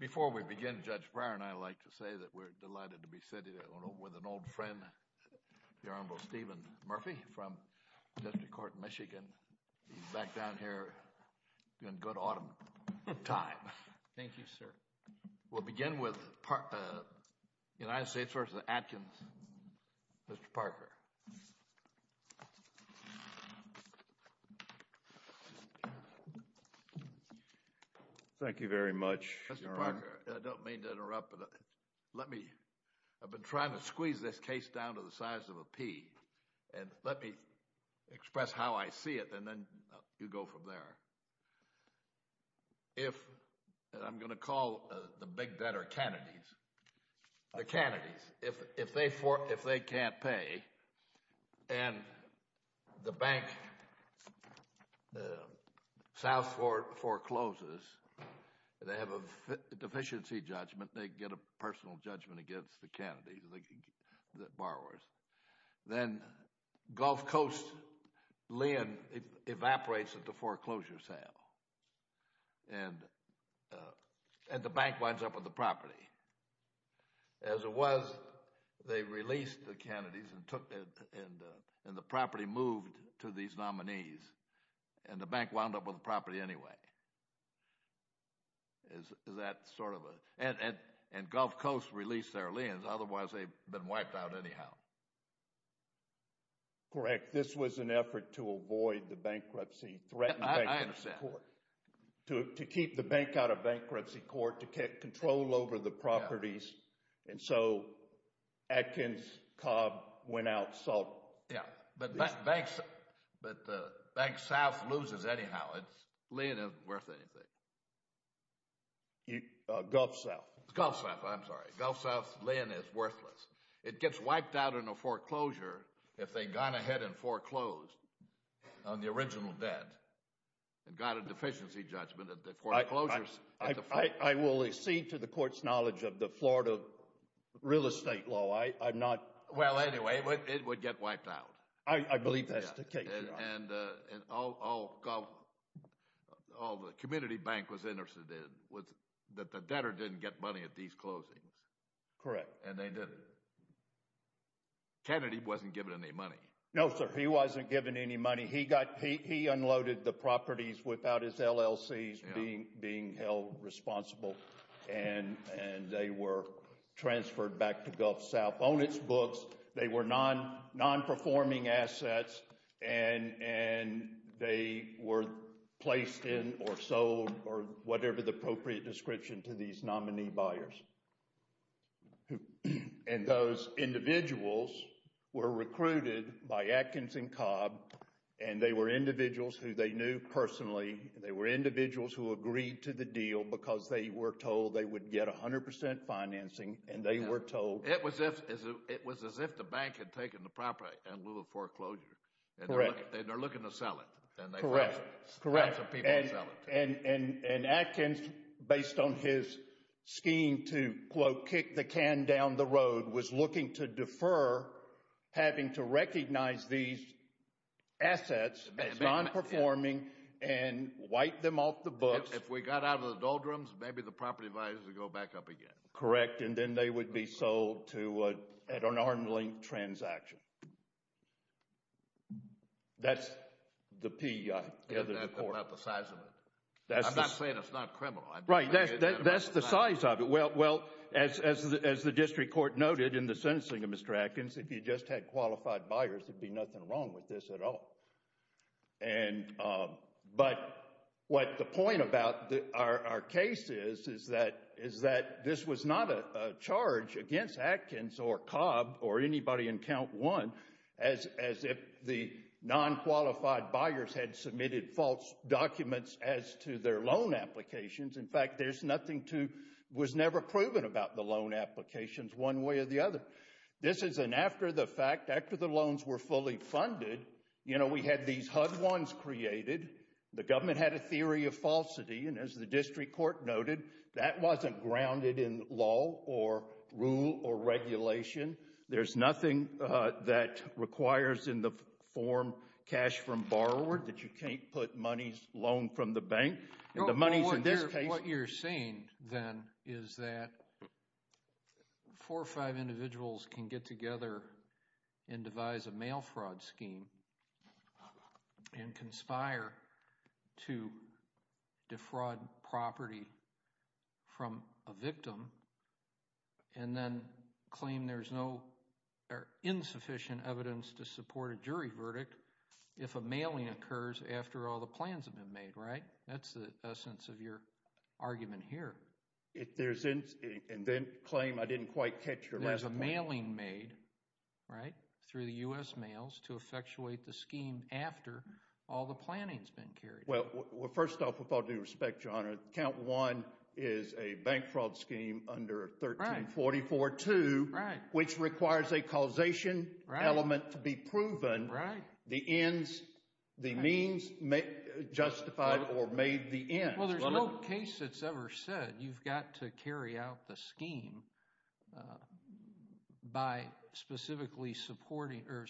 Before we begin, Judge Breyer and I like to say that we're delighted to be sitting with an old friend, the Honorable Stephen Murphy from District Court, Michigan. He's back down here in good autumn time. Thank you, sir. We'll begin with United States v. Atkins. Mr. Parker. Thank you very much, Your Honor. Mr. Parker, I don't mean to interrupt, but let me, I've been trying to squeeze this case down to the size of a pea, and let me express how I see it, and then you go from there. If, and I'm going to call the big debtor, Kennedy's, the Kennedy's, if they can't pay, and the bank, the South forecloses, they have a deficiency judgment, they get a personal judgment against the Kennedy's, the borrowers, then Gulf Coast lien evaporates at the foreclosure sale, and the bank winds up with the property. As it was, they released the Kennedy's and took, and the property moved to these nominees, and the bank wound up with the property anyway. Is that sort of a, and Gulf Coast released their liens, otherwise they've been wiped out anyhow. Correct. This was an effort to avoid the bankruptcy, threaten bankruptcy court. I understand. To keep the bank out of bankruptcy court, to get control over the properties, and so Atkins, Cobb, went out, sought. Yeah, but banks, but Bank South loses anyhow. It's, lien isn't worth anything. Gulf South. Gulf South, I'm sorry. Gulf South's lien is worthless. It gets wiped out in a foreclosure if they'd gone ahead and foreclosed on the original debt, and got a deficiency judgment at the foreclosure. I will accede to the court's knowledge of the Florida real estate law. I'm not Well, anyway, it would get wiped out. I believe that's the case. And all the community bank was interested in was that the debtor didn't get money at these closings. Correct. And they didn't. Kennedy wasn't given any money. No, sir. He wasn't given any money. He got, he unloaded the properties without his LLCs being held responsible, and they were transferred back to Gulf South on its books. They were non-performing assets, and they were placed in, or sold, or whatever the appropriate description to these nominee buyers. And those individuals were recruited by Atkins and Cobb, and they were individuals who they knew personally. They were individuals who agreed to the deal because they were told they would get 100% financing, and they were told It was as if the bank had taken the property in lieu of foreclosure, and they're looking to sell it. Correct. Correct. And they found some people to sell it to. And Atkins, based on his scheme to, quote, kick the can down the road, was looking to defer having to recognize these assets as non-performing and wipe them off the books. If we got out of the doldrums, maybe the property values would go back up again. Correct. And then they would be sold to, at an arm's length, transaction. That's the P, I gather, to the court. That's not the size of it. I'm not saying it's not criminal. Right. That's the size of it. Well, as the district court noted in the sentencing of Mr. Atkins, if you just had qualified buyers, there'd be nothing wrong with this at all. And, but what the point about our case is, is that this was not a charge against Atkins or Cobb or anybody in count one, as if the non-qualified buyers had submitted false documents as to their loan applications. In fact, there's nothing to, was never proven about the loan applications one way or the other. This is an after the fact, after the loans were fully funded, you know, we had these HUD ones created. The government had a theory of falsity. And as the district court noted, that wasn't grounded in law or rule or regulation. There's nothing that requires in the form cash from borrower that you can't put money's loan from the bank. The money's in this case. What you're saying then is that four or five individuals can get together and devise a mail fraud scheme and conspire to defraud property from a victim and then claim there's no insufficient evidence to support a jury verdict if a mailing occurs after all the plans have been made. Right? That's the essence of your argument here. If there's, and then claim I didn't quite catch your last point. There's a mailing made, right, through the U.S. mails to effectuate the scheme after all the planning's been carried out. Well, first off, with all due respect, your honor, count one is a bank fraud scheme under 1344-2, which requires a causation element to be proven. Right. The ends, the means justified or made the ends. Well, there's no case that's ever said you've got to carry out the scheme by specifically supporting or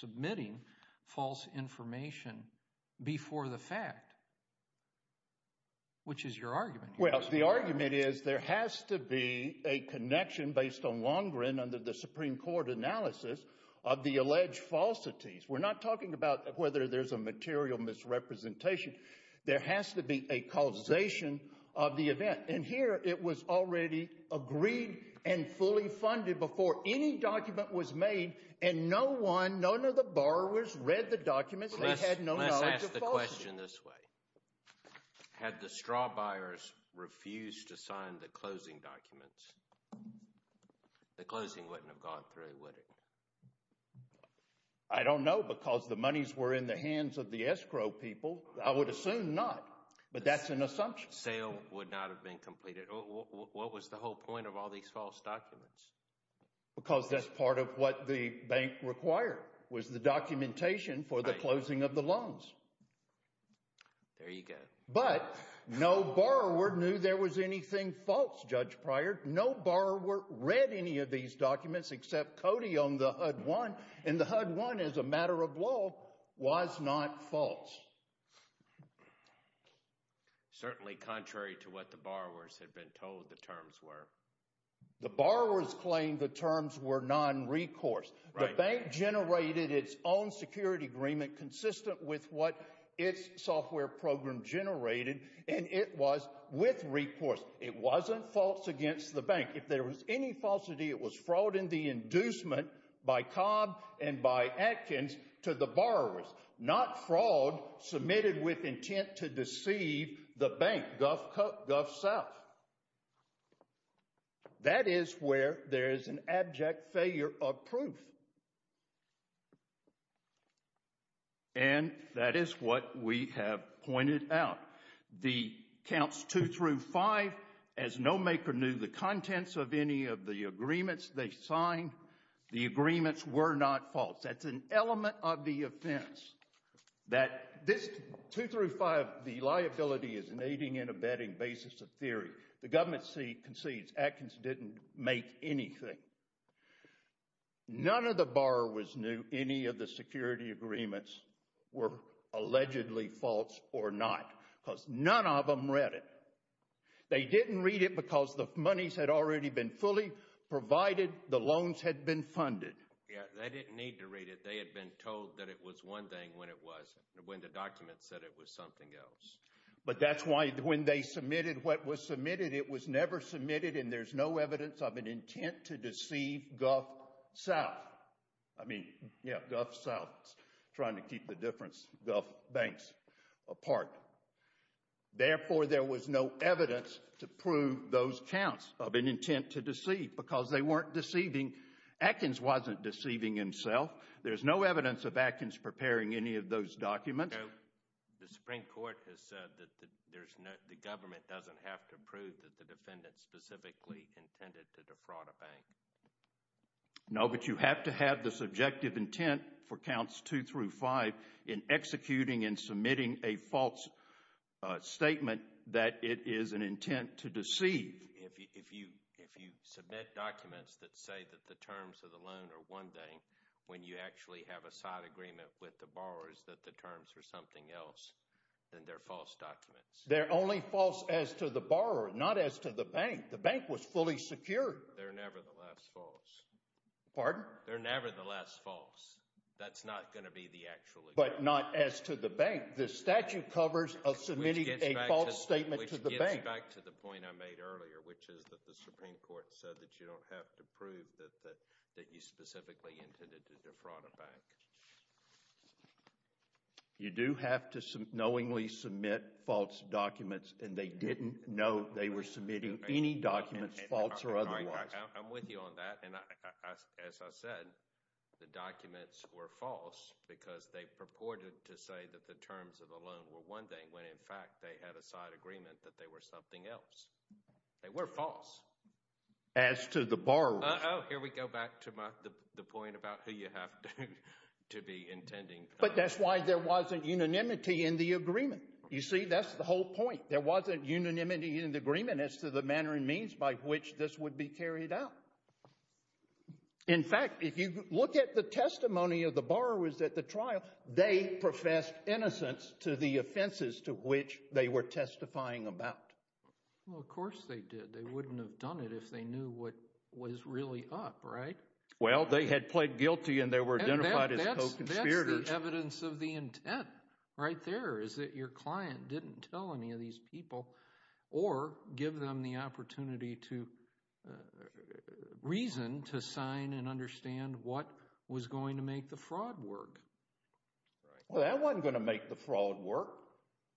submitting false information before the fact, which is your argument here. Well, the argument is there has to be a connection based on Longren under the Supreme Court analysis of the alleged falsities. We're not talking about whether there's a material misrepresentation. There has to be a causation of the event. And here it was already agreed and fully funded before any document was made and no one, none of the borrowers read the documents. They had no knowledge of falsity. Let's ask the question this way. Had the straw buyers refused to sign the closing documents, the closing wouldn't have gone through, would it? I don't know because the monies were in the hands of the escrow people. I would assume not, but that's an assumption. Sale would not have been completed. What was the whole point of all these false documents? Because that's part of what the bank required was the documentation for the closing of the loans. There you go. But no borrower knew there was anything false, Judge Pryor. No borrower read any of these documents except Cody on the HUD-1 and the HUD-1 as a matter of law was not false. Certainly contrary to what the borrowers had been told the terms were. The borrowers claimed the terms were non-recourse. The bank generated its own security agreement consistent with what its software program generated and it was with recourse. It wasn't false against the bank. If there was any falsity, it was fraud in the inducement by Cobb and by Atkins to the borrowers, not fraud submitted with intent to deceive the bank, Gulf South. That is where there is an abject failure of proof. And that is what we have pointed out. The counts 2 through 5, as no maker knew the contents of any of the agreements they signed, the agreements were not false. That's an element of the offense. That this 2 through 5, the liability is an aiding and abetting basis of theory. The government concedes Atkins didn't make anything. None of the borrowers knew any of the security agreements were allegedly false or not. None of them read it. They didn't read it because the monies had already been fully provided. The loans had been funded. They didn't need to read it. They had been told that it was one thing when the document said it was something else. But that's why when they submitted what was submitted, it was never submitted and there's no evidence of an intent to deceive Gulf South. I mean, yeah, Gulf South trying to keep the difference of banks apart. Therefore, there was no evidence to prove those counts of an intent to deceive because they weren't deceiving. Atkins wasn't deceiving himself. There's no evidence of Atkins preparing any of those documents. The Supreme Court has said that the government doesn't have to prove that the defendant specifically intended to defraud a bank. No, but you have to have the subjective intent for counts two through five in executing and submitting a false statement that it is an intent to deceive. If you submit documents that say that the terms of the loan are one thing, when you actually have a side agreement with the borrowers that the terms are something else, then they're false documents. They're only false as to the borrower, not as to the bank. The bank was fully secure. They're nevertheless false. Pardon? They're nevertheless false. That's not going to be the actual agreement. But not as to the bank. The statute covers submitting a false statement to the bank. Which gets back to the point I made earlier, which is that the Supreme Court said that you don't have to prove that you specifically intended to defraud a bank. You do have to knowingly submit false documents and they didn't know they were submitting any documents false or otherwise. I'm with you on that. And as I said, the documents were false because they purported to say that the terms of the loan were one thing when in fact they had a side agreement that they were something else. They were false. As to the borrower. Oh, here we go back to the point about who you have to be intending. But that's why there wasn't unanimity in the agreement. You see, that's the whole point. There wasn't unanimity in the agreement as to the manner and means by which this would be carried out. In fact, if you look at the testimony of the borrowers at the trial, they professed innocence to the offenses to which they were testifying about. Well, of course they did. They wouldn't have done it if they knew what was really up, right? Well, they had pled guilty and they were identified as co-conspirators. And that's the evidence of the intent right there is that your client didn't tell any of these people or give them the opportunity to reason to sign and understand what was going to make the fraud work. Well, that wasn't going to make the fraud work.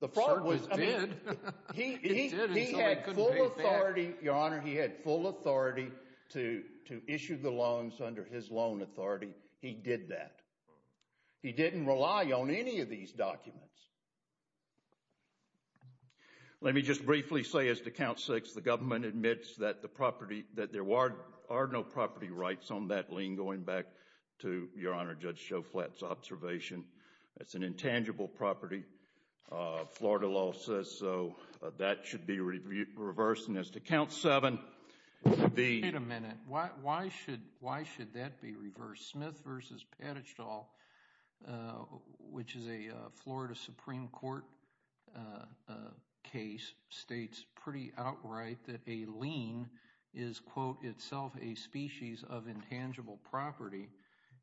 The fraud was, I mean, he had full authority, Your Honor, he had full authority to issue the loans under his loan authority. He did that. He didn't rely on any of these documents. Let me just briefly say as to Count 6, the government admits that the property, that there are no property rights on that lien going back to, Your Honor, Judge Shoflat's observation. That's an intangible property. Florida law says so. That should be reversed. And as to Count 7, it would be— Wait a minute. Why should that be reversed? Smith v. Padichdal, which is a Florida Supreme Court case, states pretty outright that a lien is, quote, itself a species of intangible property.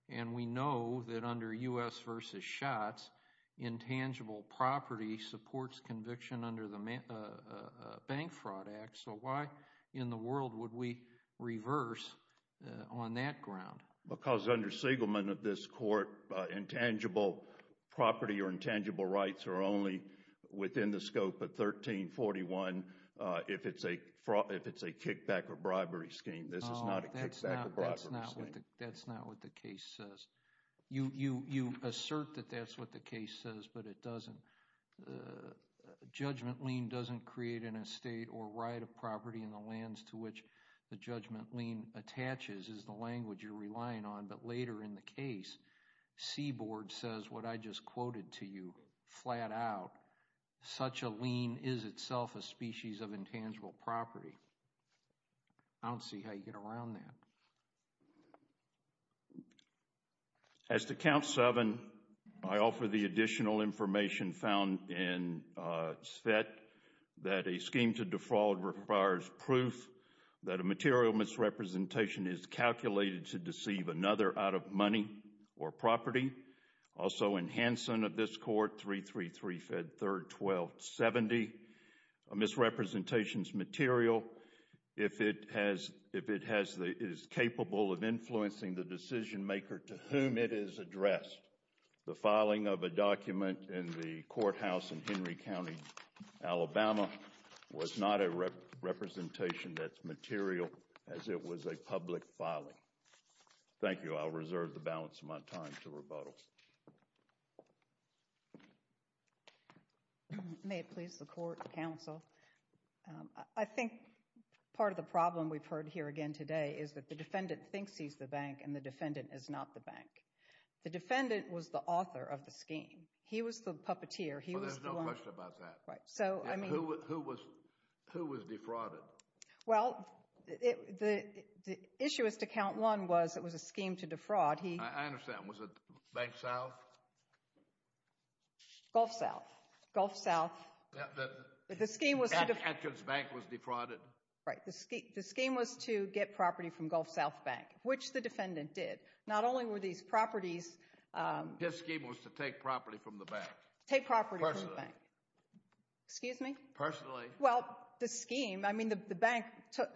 And we know that under U.S. v. Schatz, intangible property supports conviction under the Bank Fraud Act. So why in the world would we reverse on that ground? Because under Siegelman of this Court, intangible property or intangible rights are only within the scope of 1341 if it's a kickback or bribery scheme. This is not a kickback or bribery scheme. That's not what the case says. You assert that that's what the case says, but it doesn't. Judgment lien doesn't create an estate or right of property in the lands to which the later in the case, Seaboard says what I just quoted to you flat out. Such a lien is itself a species of intangible property. I don't see how you get around that. As to Count 7, I offer the additional information found in SVET that a scheme to defraud requires proof that a material misrepresentation is calculated to deceive another out of money or property. Also in Hanson of this Court, 333-312-70, a misrepresentation's material, if it is capable of influencing the decision maker to whom it is addressed. The filing of a document in the courthouse in Henry County, Alabama was not a representation that's material as it was a public filing. Thank you. I'll reserve the balance of my time to rebuttal. May it please the Court, Counsel. I think part of the problem we've heard here again today is that the defendant thinks he's the bank and the defendant is not the bank. The defendant was the author of the scheme. He was the puppeteer. So there's no question about that. Right. So, I mean... Who was defrauded? Well, the issue as to Count 1 was it was a scheme to defraud. I understand. Was it Bank South? Gulf South. Gulf South. The scheme was to... Atkins Bank was defrauded. Right. The scheme was to get property from Gulf South Bank, which the defendant did. Not only were these properties... His scheme was to take property from the bank. Take property from the bank. Personally. Excuse me? Personally. Well, the scheme, I mean, the bank took...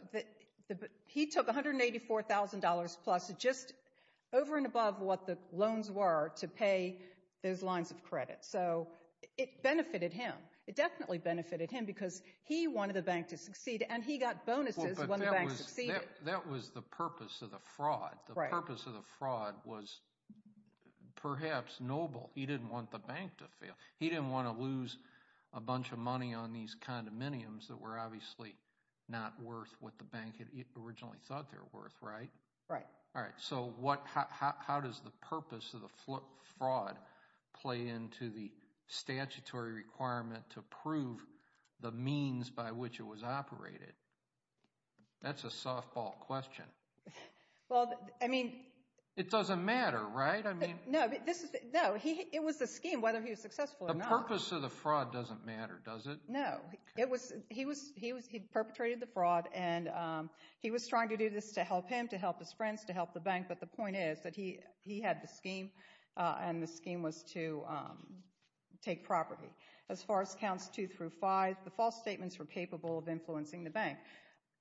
He took $184,000 plus, just over and above what the loans were to pay those lines of credit. So it benefited him. It definitely benefited him because he wanted the bank to succeed and he got bonuses when the bank succeeded. That was the purpose of the fraud. Right. The purpose of the fraud was perhaps noble. He didn't want the bank to fail. He didn't want to lose a bunch of money on these condominiums that were obviously not worth what the bank had originally thought they were worth, right? Right. All right. So how does the purpose of the fraud play into the statutory requirement to prove the means by which it was operated? That's a softball question. Well, I mean... It doesn't matter, right? I mean... No, it was the scheme, whether he was successful or not. The purpose of the fraud doesn't matter, does it? No, he perpetrated the fraud and he was trying to do this to help him, to help his friends, to help the bank. But the point is that he had the scheme and the scheme was to take property. bank.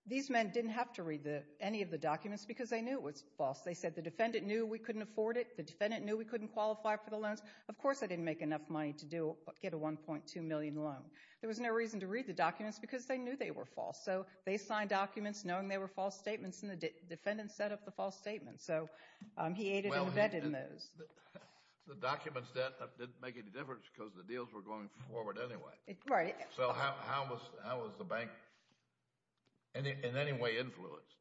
These men didn't have to read any of the documents because they knew it was false. They said the defendant knew we couldn't afford it. The defendant knew we couldn't qualify for the loans. Of course, I didn't make enough money to get a $1.2 million loan. There was no reason to read the documents because they knew they were false. So they signed documents knowing they were false statements and the defendant set up the false statements. So he aided and abetted in those. The documents didn't make any difference because the deals were going forward anyway. Right. So how was the bank in any way influenced?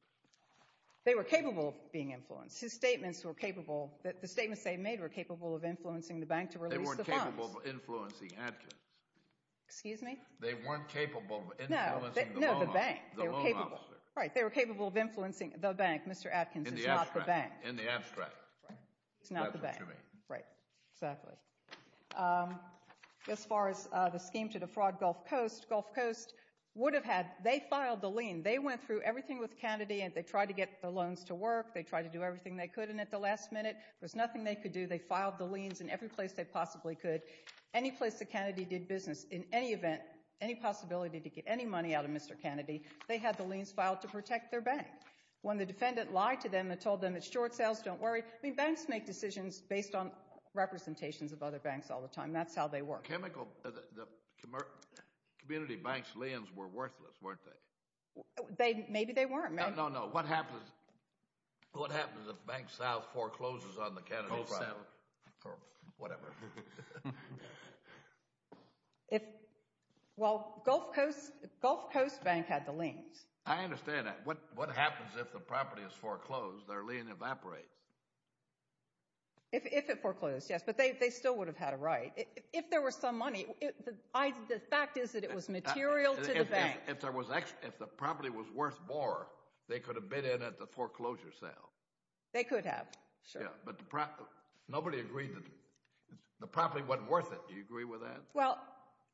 They were capable of being influenced. His statements were capable, the statements they made were capable of influencing the bank to release the funds. They weren't capable of influencing Atkins. Excuse me? They weren't capable of influencing the loan officer. Right. They were capable of influencing the bank. Mr. Atkins is not the bank. In the abstract, that's what you mean. Right, exactly. Um, as far as the scheme to defraud Gulf Coast, Gulf Coast would have had, they filed the lien. They went through everything with Kennedy and they tried to get the loans to work. They tried to do everything they could and at the last minute, there was nothing they could do. They filed the liens in every place they possibly could. Any place that Kennedy did business, in any event, any possibility to get any money out of Mr. Kennedy, they had the liens filed to protect their bank. When the defendant lied to them and told them it's short sales, don't worry. Banks make decisions based on representations of other banks all the time. That's how they work. Chemical, the community bank's liens were worthless, weren't they? Maybe they weren't. No, no, no. What happens, what happens if Bank South forecloses on the Kennedy? Whatever. Well, Gulf Coast Bank had the liens. I understand that. What happens if the property is foreclosed? Their lien evaporates. If it foreclosed, yes, but they still would have had a right. If there was some money, the fact is that it was material to the bank. If there was, if the property was worth more, they could have bid in at the foreclosure sale. They could have, sure. Yeah, but the property, nobody agreed that the property wasn't worth it. Do you agree with that? Well,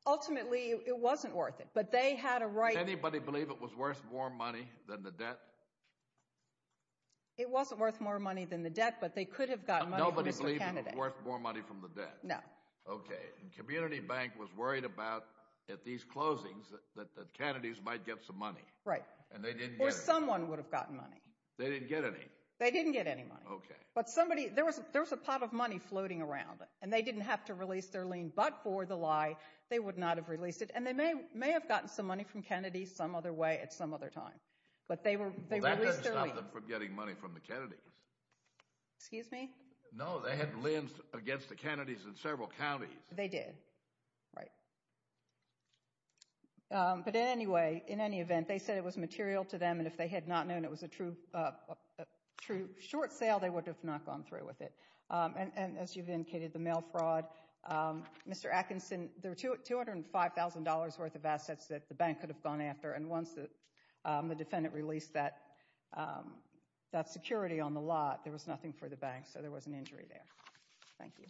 ultimately, it wasn't worth it, but they had a right. Does anybody believe it was worth more money than the debt? It wasn't worth more money than the debt, but they could have gotten money from Mr. Kennedy. Nobody believed it was worth more money from the debt? No. Okay, the community bank was worried about, at these closings, that the Kennedys might get some money. Right. And they didn't get any. Or someone would have gotten money. They didn't get any. They didn't get any money. Okay. But somebody, there was a pot of money floating around, and they didn't have to release their lien, but for the lie, they would not have released it, and they may have gotten some money from Kennedy some other way at some other time. But they released their lien. That doesn't stop them from getting money from the Kennedys. Excuse me? No, they had liens against the Kennedys in several counties. They did. Right. But in any way, in any event, they said it was material to them, and if they had not known it was a true short sale, they would have not gone through with it. And as you've indicated, the mail fraud. Mr. Atkinson, there were $205,000 worth of assets that the bank could have gone after, and once the defendant released that security on the lot, there was nothing for the bank, so there was an injury there. Thank you.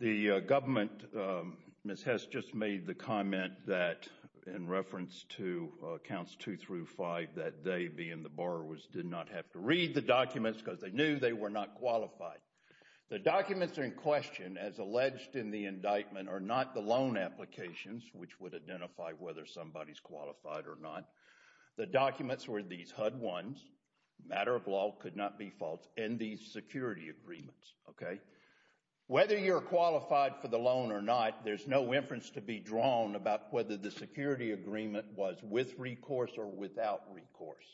The government, Ms. Hess just made the comment that, in reference to accounts two through five, that they, being the borrowers, did not have to read the documents because they knew they were not qualified. The documents in question, as alleged in the indictment, are not the loan applications, which would identify whether somebody's qualified or not. The documents were these HUD ones, matter of law, could not be false, and these security agreements, okay? Whether you're qualified for the loan or not, there's no inference to be drawn about whether the security agreement was with recourse or without recourse.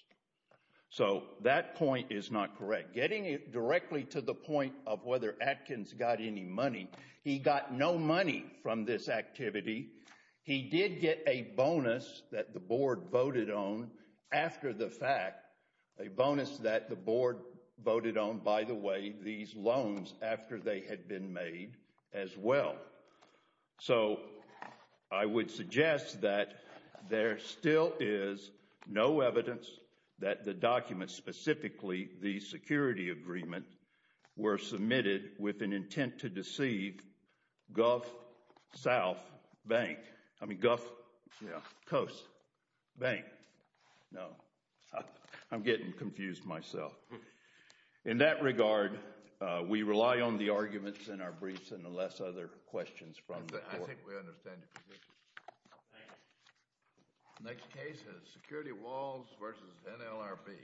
So that point is not correct. Getting directly to the point of whether Atkins got any money, he got no money from this activity. He did get a bonus that the board voted on after the fact, a bonus that the board voted on, by the way, these loans after they had been made as well. So I would suggest that there still is no evidence that the documents, specifically the security agreement, were submitted with an intent to deceive Gulf South Bank, I mean Gulf Coast Bank. No, I'm getting confused myself. In that regard, we rely on the arguments in our briefs and the less other questions from the board. I think we understand your position. Next case is Security Walls v. NLRB.